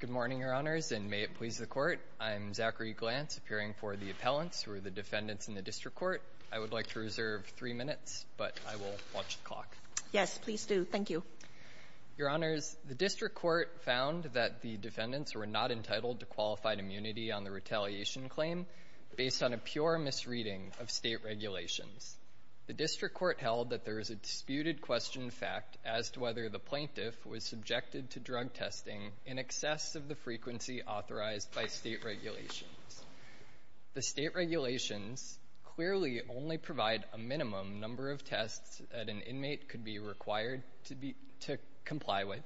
Good morning, Your Honors, and may it please the Court. I'm Zachary Glantz, appearing for the Appellants, who are the defendants in the District Court. I would like to reserve three minutes, but I will watch the clock. Yes, please do. Thank you. Your Honors, the District Court found that the defendants were not entitled to qualified immunity on the retaliation claim based on a pure misreading of state regulations. The District Court held that there is a disputed question fact as to whether the plaintiff was subjected to drug testing in excess of the frequency authorized by state regulations. The state regulations clearly only provide a minimum number of tests that an inmate could be required to comply with.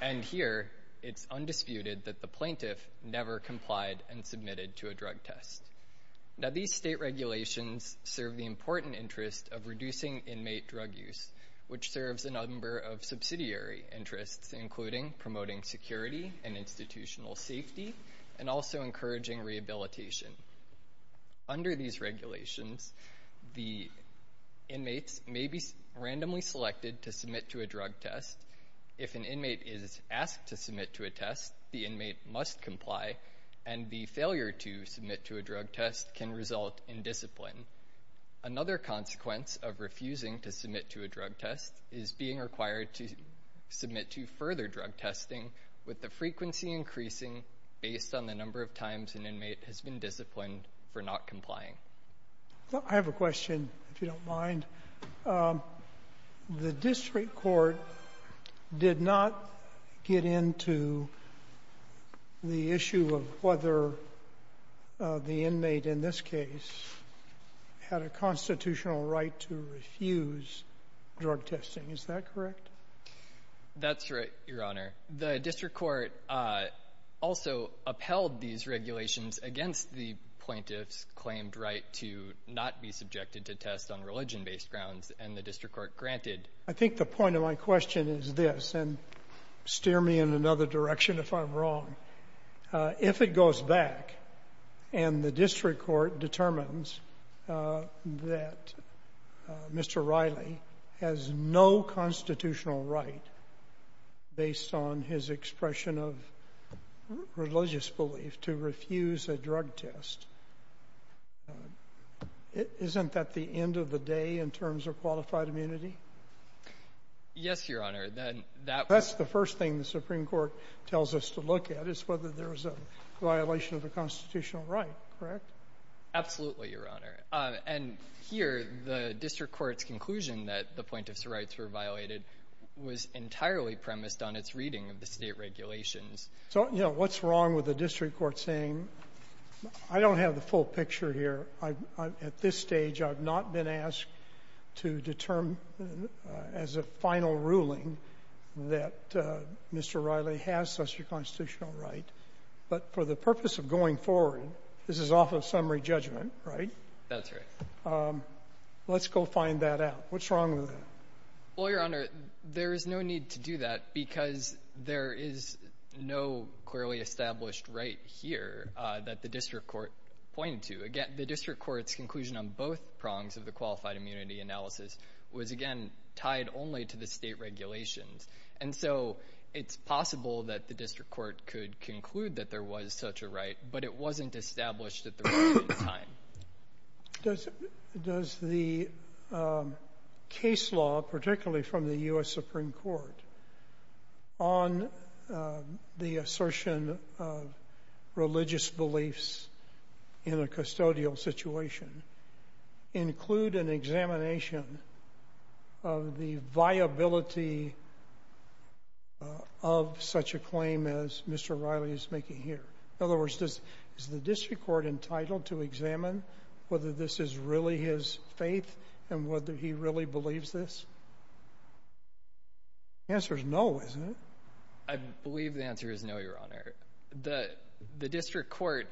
And here, it's undisputed that the plaintiff never complied and submitted to a drug test. Now, these state regulations serve the important interest of reducing inmate drug use, which serves a number of subsidiary interests, including promoting security and institutional safety, and also encouraging rehabilitation. Under these regulations, the inmates may be randomly selected to submit to a drug test. If an inmate is asked to submit to a test, the inmate must comply, and the failure to submit to a drug test can result in discipline. Another consequence of refusing to submit to a drug test is being required to submit to further drug testing with the frequency increasing based on the number of times an inmate has been disciplined for not complying. I have a question, if you don't mind. The district court did not get into the issue of whether the inmate in this case had a constitutional right to refuse drug testing. Is that correct? That's right, Your Honor. The district court also upheld these regulations against the plaintiff's claimed right to not be subjected to tests on religion-based grounds, and the district court granted. I think the point of my question is this, and steer me in another direction if I'm wrong. If it goes back and the district court determines that Mr. Riley has no constitutional right, based on his expression of religious belief, to refuse a drug test, isn't that the end of the day in terms of qualified immunity? Yes, Your Honor. That's the first thing the Supreme Court tells us to look at, is whether there's a violation of the constitutional right, correct? Absolutely, Your Honor. And here, the district court's conclusion that the plaintiff's rights were violated was entirely premised on its reading of the state regulations. So, you know, what's wrong with the district court saying, I don't have the full picture here? At this stage, I've not been asked to determine as a final ruling that Mr. Riley has such a constitutional right. But for the purpose of going forward, this is off of summary judgment, right? That's right. Let's go find that out. What's wrong with that? Well, Your Honor, there is no need to do that, because there is no clearly established right here that the district court pointed to. Again, the district court's conclusion on both prongs of the qualified immunity analysis was, again, tied only to the state regulations. And so it's possible that the district court could conclude that there was such a right, but it wasn't established at the right time. Does the case law, particularly from the U.S. Supreme Court, on the assertion of religious beliefs in a custodial situation include an examination of the viability of such a claim as Mr. Riley is making here? In other words, is the district court entitled to examine whether this is really his faith and whether he really believes this? The answer is no, isn't it? I believe the answer is no, Your Honor. The district court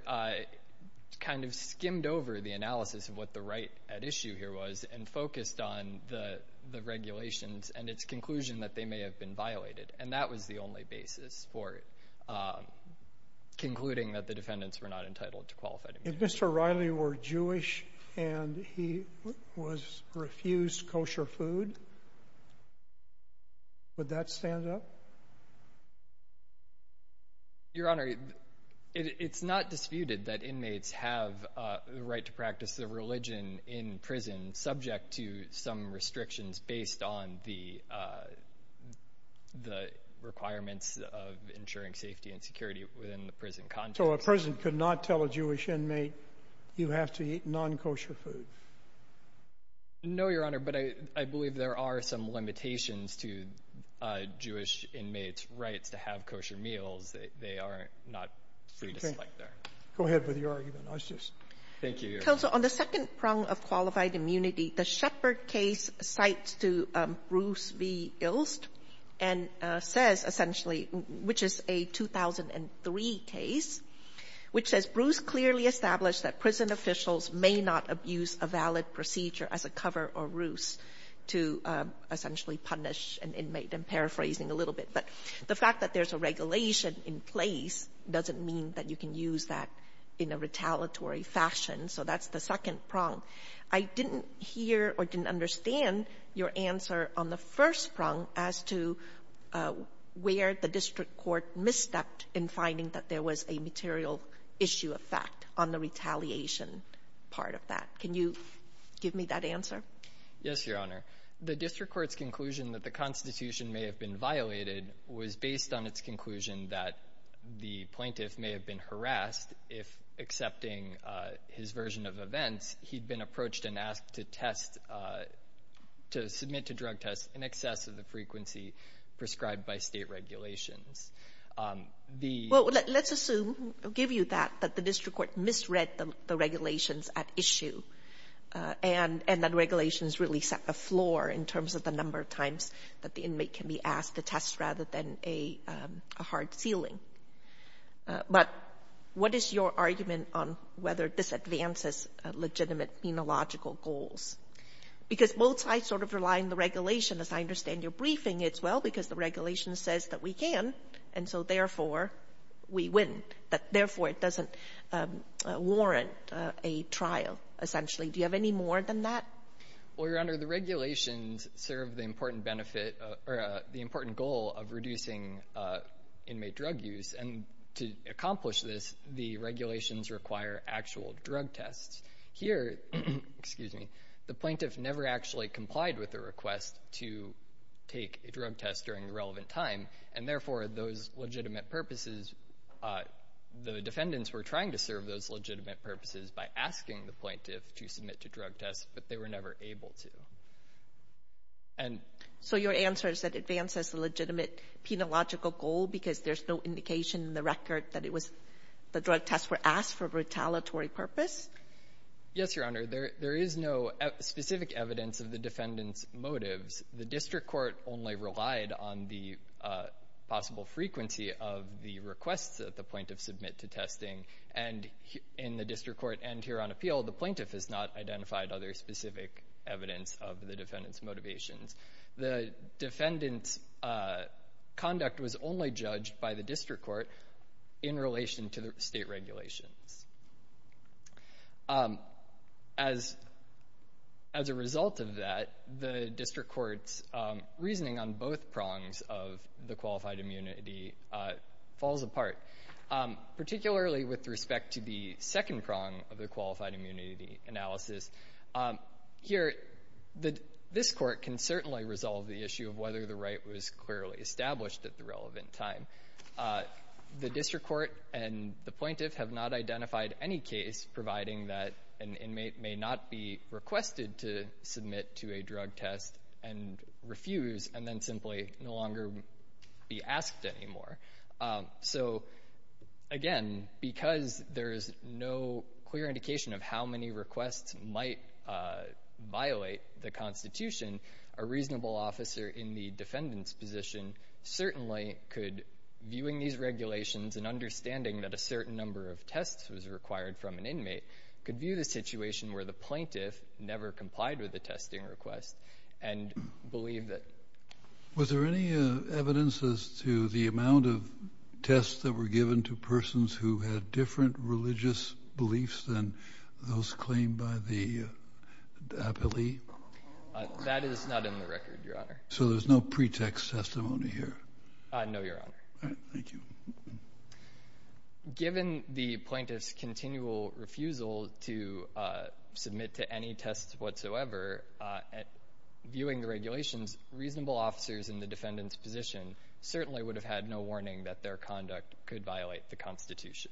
kind of skimmed over the analysis of what the right at issue here was and focused on the regulations and its conclusion that they may have been violated, and that was the only basis for concluding that the defendants were not entitled to qualified immunity. If Mr. Riley were Jewish and he was refused kosher food, would that stand up? Your Honor, it's not disputed that inmates have the right to practice their religion in prison subject to some restrictions based on the requirements of ensuring safety and security within the prison context. So a prison could not tell a Jewish inmate you have to eat non-kosher food? No, Your Honor, but I believe there are some limitations to Jewish inmates' rights to have kosher meals. They are not free to select their own. Go ahead with your argument. Thank you, Your Honor. Counsel, on the second prong of qualified immunity, the Shepard case cites to Bruce v. Ilst and says essentially, which is a 2003 case, which says, Bruce clearly established that prison officials may not abuse a valid procedure as a cover or ruse to essentially punish an inmate. I'm paraphrasing a little bit. But the fact that there's a regulation in place doesn't mean that you can use that in a retaliatory fashion. So that's the second prong. I didn't hear or didn't understand your answer on the first prong as to where the district court misstepped in finding that there was a material issue of fact on the retaliation part of that. Can you give me that answer? Yes, Your Honor. The district court's conclusion that the Constitution may have been violated was based on its conclusion that the plaintiff may have been harassed if, accepting his version of events, he'd been approached and asked to test, to submit to drug tests in excess of the frequency prescribed by state regulations. Well, let's assume, I'll give you that, that the district court misread the regulations at issue and that regulations really set the floor in terms of the number of times that the inmate can be asked to test rather than a hard ceiling. But what is your argument on whether this advances legitimate penological goals? Because both sides sort of rely on the regulation. As I understand your briefing, it's well because the regulation says that we can, and so therefore we win, that therefore it doesn't warrant a trial, essentially. Do you have any more than that? Well, Your Honor, the regulations serve the important benefit or the important goal of reducing inmate drug use. And to accomplish this, the regulations require actual drug tests. Here, the plaintiff never actually complied with the request to take a drug test during the relevant time, and therefore those legitimate purposes, the defendants were trying to serve those legitimate purposes by asking the plaintiff to submit to drug tests, but they were never able to. So your answer is that it advances the legitimate penological goal because there's no indication in the record that the drug tests were asked for a retaliatory purpose? Yes, Your Honor. The district court only relied on the possible frequency of the requests that the plaintiff submit to testing, and in the district court and here on appeal, the plaintiff has not identified other specific evidence of the defendant's motivations. The defendant's conduct was only judged by the district court in relation to the state regulations. As a result of that, the district court's reasoning on both prongs of the qualified immunity falls apart, particularly with respect to the second prong of the qualified immunity analysis. Here, this court can certainly resolve the issue of whether the right was clearly established at the relevant time. The district court and the plaintiff have not identified any case providing that an inmate may not be requested to submit to a drug test and refuse, and then simply no longer be asked anymore. So, again, because there is no clear indication of how many requests might violate the Constitution, a reasonable officer in the defendant's position certainly could, viewing these regulations and understanding that a certain number of tests was required from an inmate, could view the situation where the plaintiff never complied with the testing request and believe that. Was there any evidence as to the amount of tests that were given to persons who had different religious beliefs than those claimed by the appellee? That is not in the record, Your Honor. So there's no pretext testimony here? No, Your Honor. All right. Thank you. Given the plaintiff's continual refusal to submit to any tests whatsoever, viewing the regulations, reasonable officers in the defendant's position certainly would have had no warning that their conduct could violate the Constitution.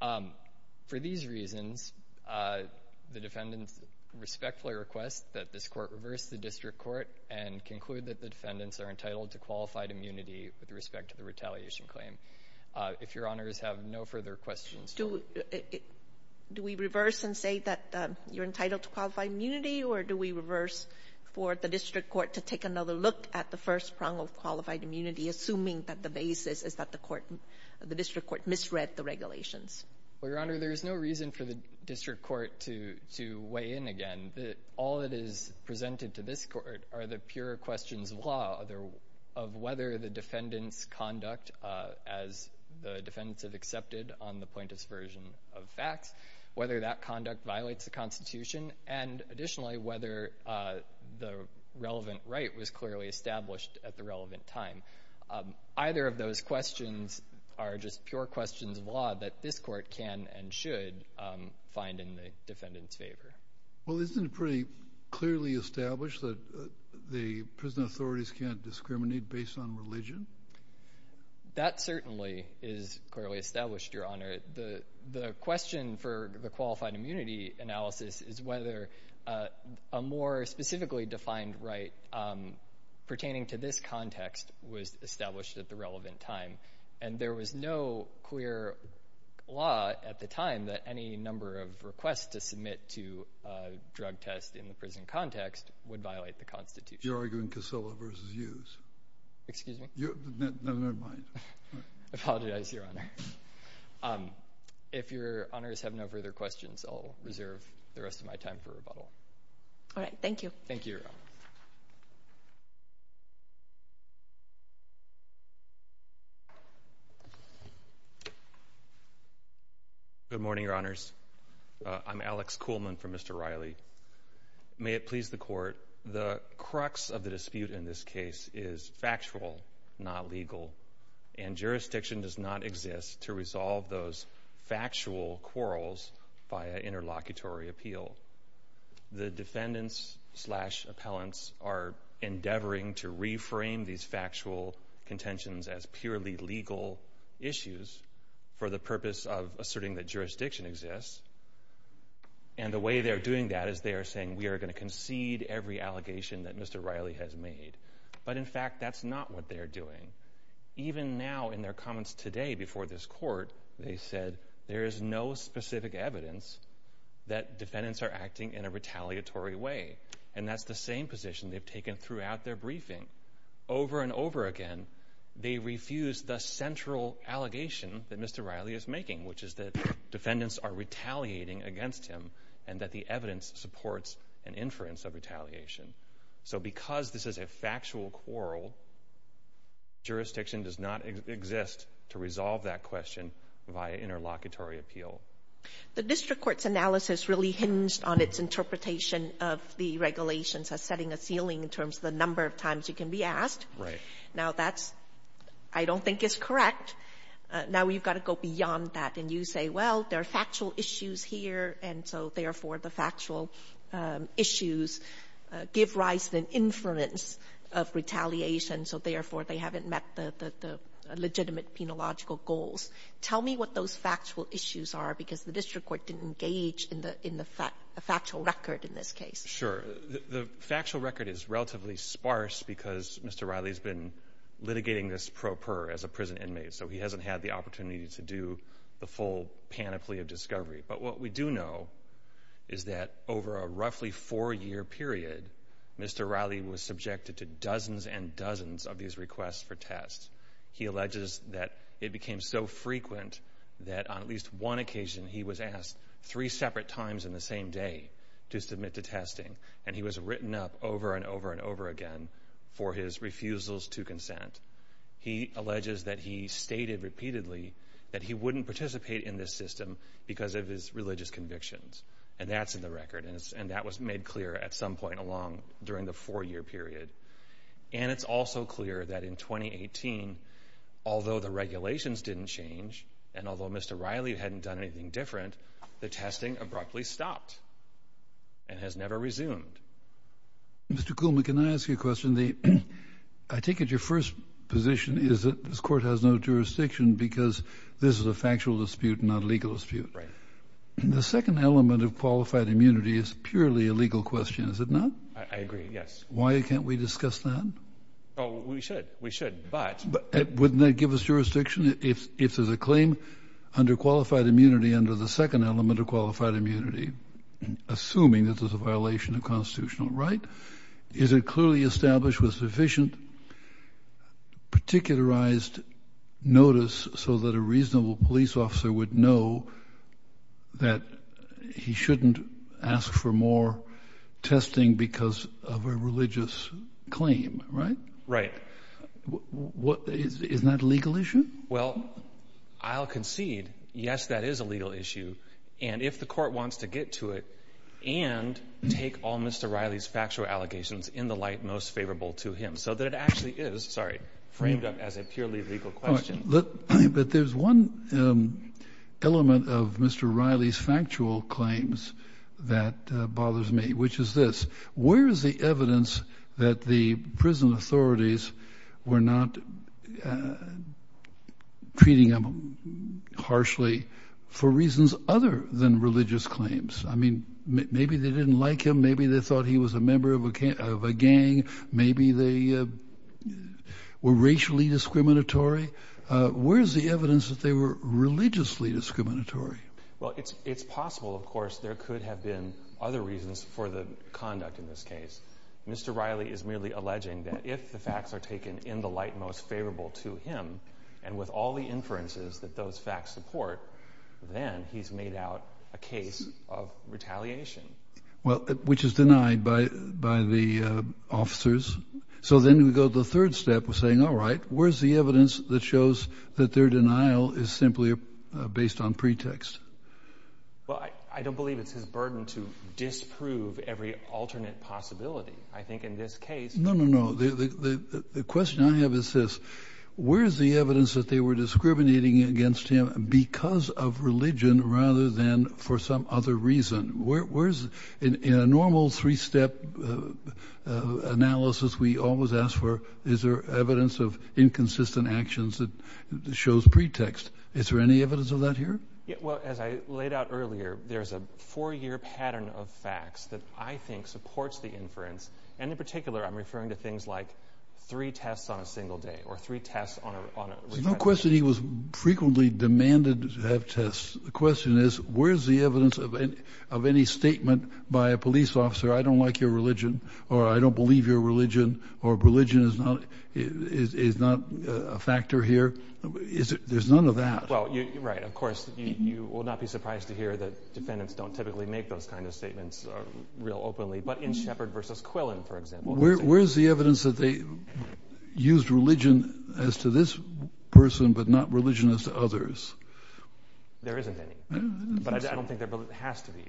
For these reasons, the defendants respectfully request that this Court reverse the district court and conclude that the defendants are entitled to qualified immunity with respect to the retaliation claim. If Your Honors have no further questions. Do we reverse and say that you're entitled to qualified immunity, or do we reverse for the district court to take another look at the first prong of qualified immunity, assuming that the basis is that the district court misread the regulations? Well, Your Honor, there is no reason for the district court to weigh in again. All that is presented to this Court are the pure questions of law, of whether the defendant's conduct as the defendants have accepted on the plaintiff's version of facts, whether that conduct violates the Constitution, and additionally, whether the relevant right was clearly established at the relevant time. Either of those questions are just pure questions of law that this Court can and should find in the defendant's favor. Well, isn't it pretty clearly established that the prison authorities can't discriminate based on religion? That certainly is clearly established, Your Honor. The question for the qualified immunity analysis is whether a more specifically defined right pertaining to this context was established at the relevant time, and there was no clear law at the time that any number of requests to submit to a drug test in the prison context would violate the Constitution. You're arguing Casilla versus Hughes. Excuse me? Never mind. I apologize, Your Honor. If Your Honors have no further questions, I'll reserve the rest of my time for rebuttal. All right. Thank you. Thank you, Your Honor. Good morning, Your Honors. I'm Alex Kuhlman from Mr. Riley. May it please the Court, the crux of the dispute in this case is factual, not legal, and jurisdiction does not exist to resolve those factual quarrels via interlocutory appeal. The defendants slash appellants are endeavoring to reframe these factual contentions as purely legal issues for the purpose of asserting that jurisdiction exists, and the way they're doing that is they are saying, we are going to concede every allegation that Mr. Riley has made, but in fact, that's not what they're doing. Even now, in their comments today before this Court, they said there is no specific evidence that defendants are acting in a retaliatory way, and that's the same position they've taken throughout their briefing. Over and over again, they refuse the central allegation that Mr. Riley is making, which is that defendants are retaliating against him, and that the evidence supports an inference of retaliation. So because this is a factual quarrel, jurisdiction does not exist to resolve that question via interlocutory appeal. The district court's analysis really hinged on its interpretation of the regulations as setting a ceiling in terms of the number of times you can be asked. Right. Now, that's, I don't think, is correct. Now, we've got to go beyond that, and you say, well, there are factual issues here, and so therefore the factual issues give rise to an inference of retaliation, so therefore they haven't met the legitimate penological goals. Tell me what those factual issues are, because the district court didn't engage in the factual record in this case. Sure. The factual record is relatively sparse because Mr. Riley has been litigating this So he hasn't had the opportunity to do the full panoply of discovery. But what we do know is that over a roughly four-year period, Mr. Riley was subjected to dozens and dozens of these requests for tests. He alleges that it became so frequent that on at least one occasion he was asked three separate times in the same day to submit to testing, and he was written up over and over and over again for his refusals to consent. He alleges that he stated repeatedly that he wouldn't participate in this system because of his religious convictions, and that's in the record, and that was made clear at some point along during the four-year period. And it's also clear that in 2018, although the regulations didn't change and although Mr. Riley hadn't done anything different, the testing abruptly stopped and has never resumed. I take it your first position is that this court has no jurisdiction because this is a factual dispute, not a legal dispute. Right. The second element of qualified immunity is purely a legal question, is it not? I agree, yes. Why can't we discuss that? Oh, we should. We should, but... Wouldn't that give us jurisdiction if there's a claim under qualified immunity under the second element of qualified immunity, assuming that there's a violation of constitutional right? Is it clearly established with sufficient particularized notice so that a reasonable police officer would know that he shouldn't ask for more testing because of a religious claim, right? Right. Isn't that a legal issue? Well, I'll concede, yes, that is a legal issue, and if the court wants to get to it and take all Mr. Riley's factual allegations in the light most favorable to him so that it actually is framed up as a purely legal question. But there's one element of Mr. Riley's factual claims that bothers me, which is this. Where is the evidence that the prison authorities were not treating him harshly for reasons other than religious claims? I mean, maybe they didn't like him, maybe they thought he was a member of a gang, maybe they were racially discriminatory. Where is the evidence that they were religiously discriminatory? Well, it's possible, of course, there could have been other reasons for the conduct in this case. Mr. Riley is merely alleging that if the facts are taken in the light most favorable to him and with all the inferences that those facts support, then he's made out a case of retaliation. Well, which is denied by the officers. So then we go to the third step of saying, all right, where's the evidence that shows that their denial is simply based on pretext? Well, I don't believe it's his burden to disprove every alternate possibility. I think in this case— No, no, no. The question I have is this. Where is the evidence that they were discriminating against him because of religion rather than for some other reason? In a normal three-step analysis, we always ask for, is there evidence of inconsistent actions that shows pretext? Is there any evidence of that here? Well, as I laid out earlier, there's a four-year pattern of facts that I think supports the inference. And in particular, I'm referring to things like three tests on a single day or three tests on a— There's no question he was frequently demanded to have tests. The question is, where's the evidence of any statement by a police officer, I don't like your religion or I don't believe your religion or religion is not a factor here? There's none of that. Well, you're right. Of course, you will not be surprised to hear that defendants don't typically make those kinds of statements real openly. But in Shepard v. Quillen, for example— Where's the evidence that they used religion as to this person but not religion as to others? There isn't any. But I don't think there has to be.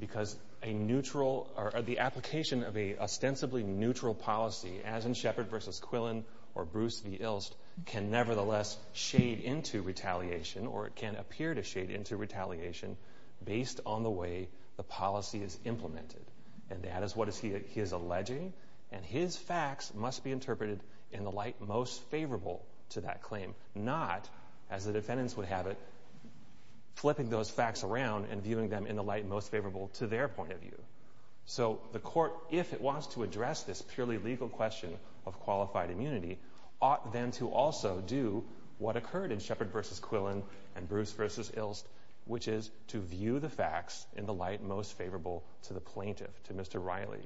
Because a neutral—or the application of an ostensibly neutral policy, as in Shepard v. Quillen or Bruce v. Ilst, can nevertheless shade into retaliation or it can appear to shade into retaliation based on the way the policy is implemented. And that is what he is alleging. And his facts must be interpreted in the light most favorable to that claim, not, as the defendants would have it, flipping those facts around and viewing them in the light most favorable to their point of view. So the court, if it wants to address this purely legal question of qualified immunity, ought then to also do what occurred in Shepard v. Quillen and Bruce v. Ilst, which is to view the facts in the light most favorable to the plaintiff, to Mr. Riley.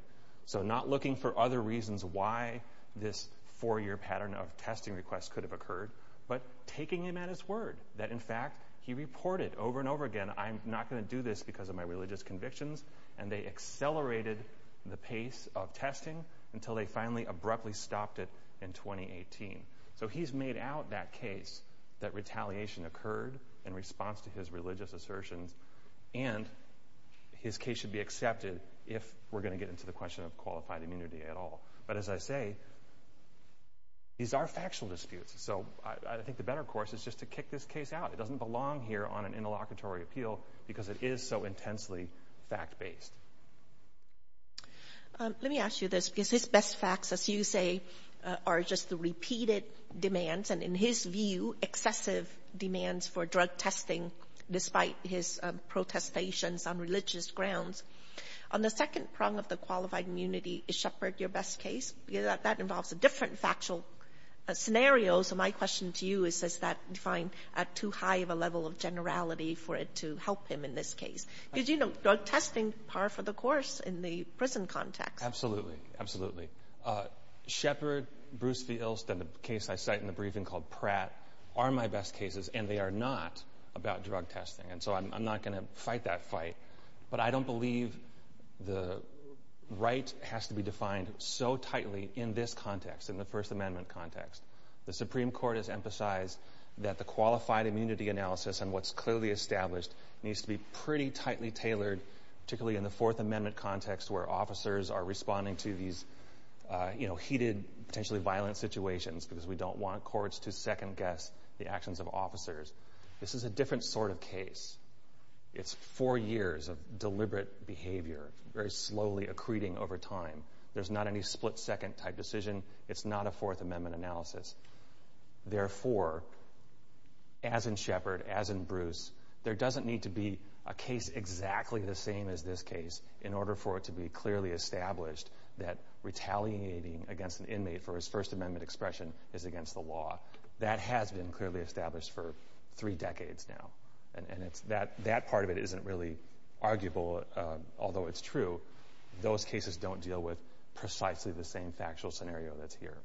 So not looking for other reasons why this four-year pattern of testing requests could have occurred, but taking him at his word that, in fact, he reported over and over again, I'm not going to do this because of my religious convictions, and they accelerated the pace of testing until they finally abruptly stopped it in 2018. So he's made out that case that retaliation occurred in response to his religious assertions, and his case should be accepted if we're going to get into the question of qualified immunity at all. But as I say, these are factual disputes. So I think the better course is just to kick this case out. It doesn't belong here on an interlocutory appeal because it is so intensely fact-based. Let me ask you this, because his best facts, as you say, are just the repeated demands and, in his view, excessive demands for drug testing, despite his protestations on religious grounds. On the second prong of the qualified immunity is Shepard, your best case, because that involves a different factual scenario. So my question to you is, is that defined at too high of a level of generality for it to help him in this case? Because, you know, drug testing, par for the course in the prison context. Absolutely, absolutely. Shepard, Bruce Vils, and the case I cite in the briefing called Pratt are my best cases, and they are not about drug testing, and so I'm not going to fight that fight. But I don't believe the right has to be defined so tightly in this context, in the First Amendment context. The Supreme Court has emphasized that the qualified immunity analysis and what's clearly established needs to be pretty tightly tailored, particularly in the Fourth Amendment context where officers are responding to these, you know, heated, potentially violent situations because we don't want courts to second-guess the actions of officers. This is a different sort of case. It's four years of deliberate behavior, very slowly accreting over time. There's not any split-second type decision. It's not a Fourth Amendment analysis. Therefore, as in Shepard, as in Bruce, there doesn't need to be a case exactly the same as this case in order for it to be clearly established that retaliating against an inmate for his First Amendment expression is against the law. That has been clearly established for three decades now, and that part of it isn't really arguable, although it's true. Those cases don't deal with precisely the same factual scenario that's here.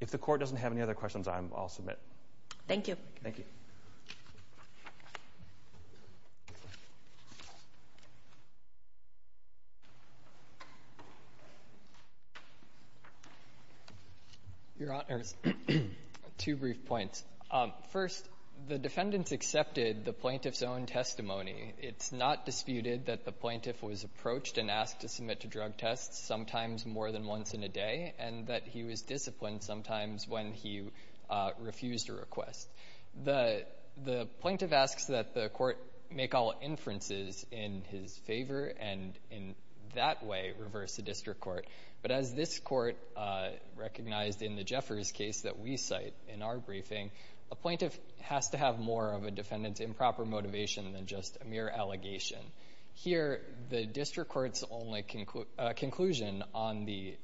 If the Court doesn't have any other questions, I'll submit. Thank you. Thank you. Your Honors, two brief points. First, the defendants accepted the plaintiff's own testimony. It's not disputed that the plaintiff was approached and asked to submit to drug tests sometimes more than once in a day, and that he was disciplined sometimes when he refused a request. The plaintiff asks that the Court make all inferences in his favor and in that way reverse the district court. But as this Court recognized in the Jeffers case that we cite in our briefing, a plaintiff has to have more of a defendant's improper motivation than just a mere allegation. Here, the district court's only conclusion on the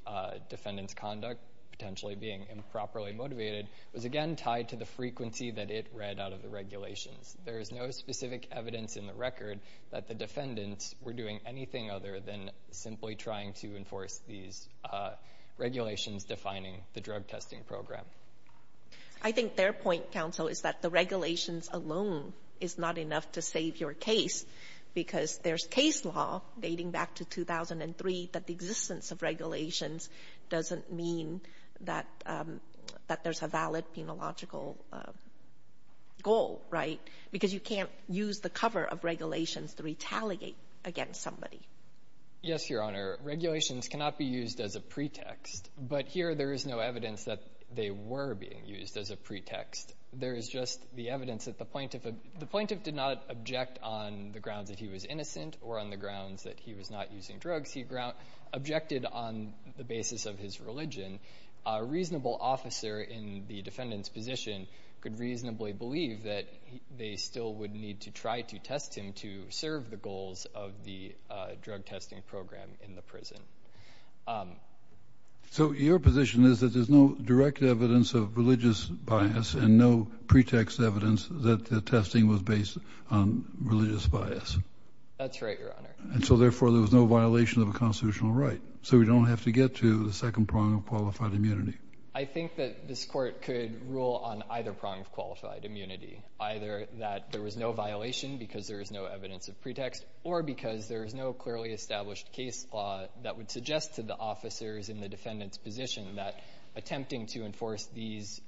defendant's conduct potentially being improperly motivated was, again, tied to the frequency that it read out of the regulations. There is no specific evidence in the record that the defendants were doing anything other than simply trying to enforce these regulations defining the drug testing program. I think their point, Counsel, is that the regulations alone is not enough to save your case because there's case law dating back to 2003 that the existence of regulations doesn't mean that there's a valid penological goal, right? Because you can't use the cover of regulations to retaliate against somebody. Yes, Your Honor. Regulations cannot be used as a pretext, but here there is no evidence that they were being used as a pretext. There is just the evidence that the plaintiff did not object on the grounds that he was innocent or on the grounds that he was not using drugs. He objected on the basis of his religion. A reasonable officer in the defendant's position could reasonably believe that they still would need to try to test him to serve the goals of the drug testing program in the prison. So your position is that there's no direct evidence of religious bias and no pretext evidence that the testing was based on religious bias. That's right, Your Honor. And so, therefore, there was no violation of a constitutional right, so we don't have to get to the second prong of qualified immunity. I think that this court could rule on either prong of qualified immunity, either that there was no violation because there is no evidence of pretext or because there is no clearly established case law that would suggest to the officers in the defendant's position that attempting to enforce these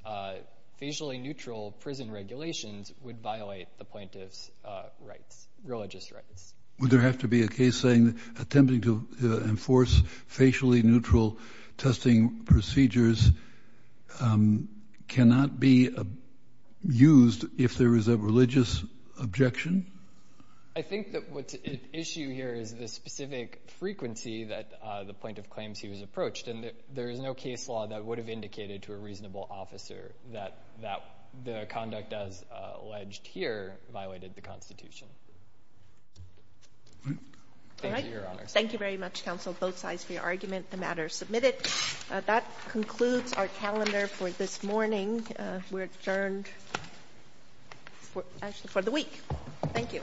facially neutral prison regulations would violate the plaintiff's rights, religious rights. Would there have to be a case saying that attempting to enforce facially neutral testing procedures cannot be used if there is a religious objection? I think that what's at issue here is the specific frequency that the plaintiff claims he was approached, and there is no case law that would have indicated to a reasonable officer that the conduct as alleged here violated the Constitution. Thank you, Your Honor. Thank you very much, counsel, both sides for your argument. The matter is submitted. That concludes our calendar for this morning. We're adjourned for the week. Thank you.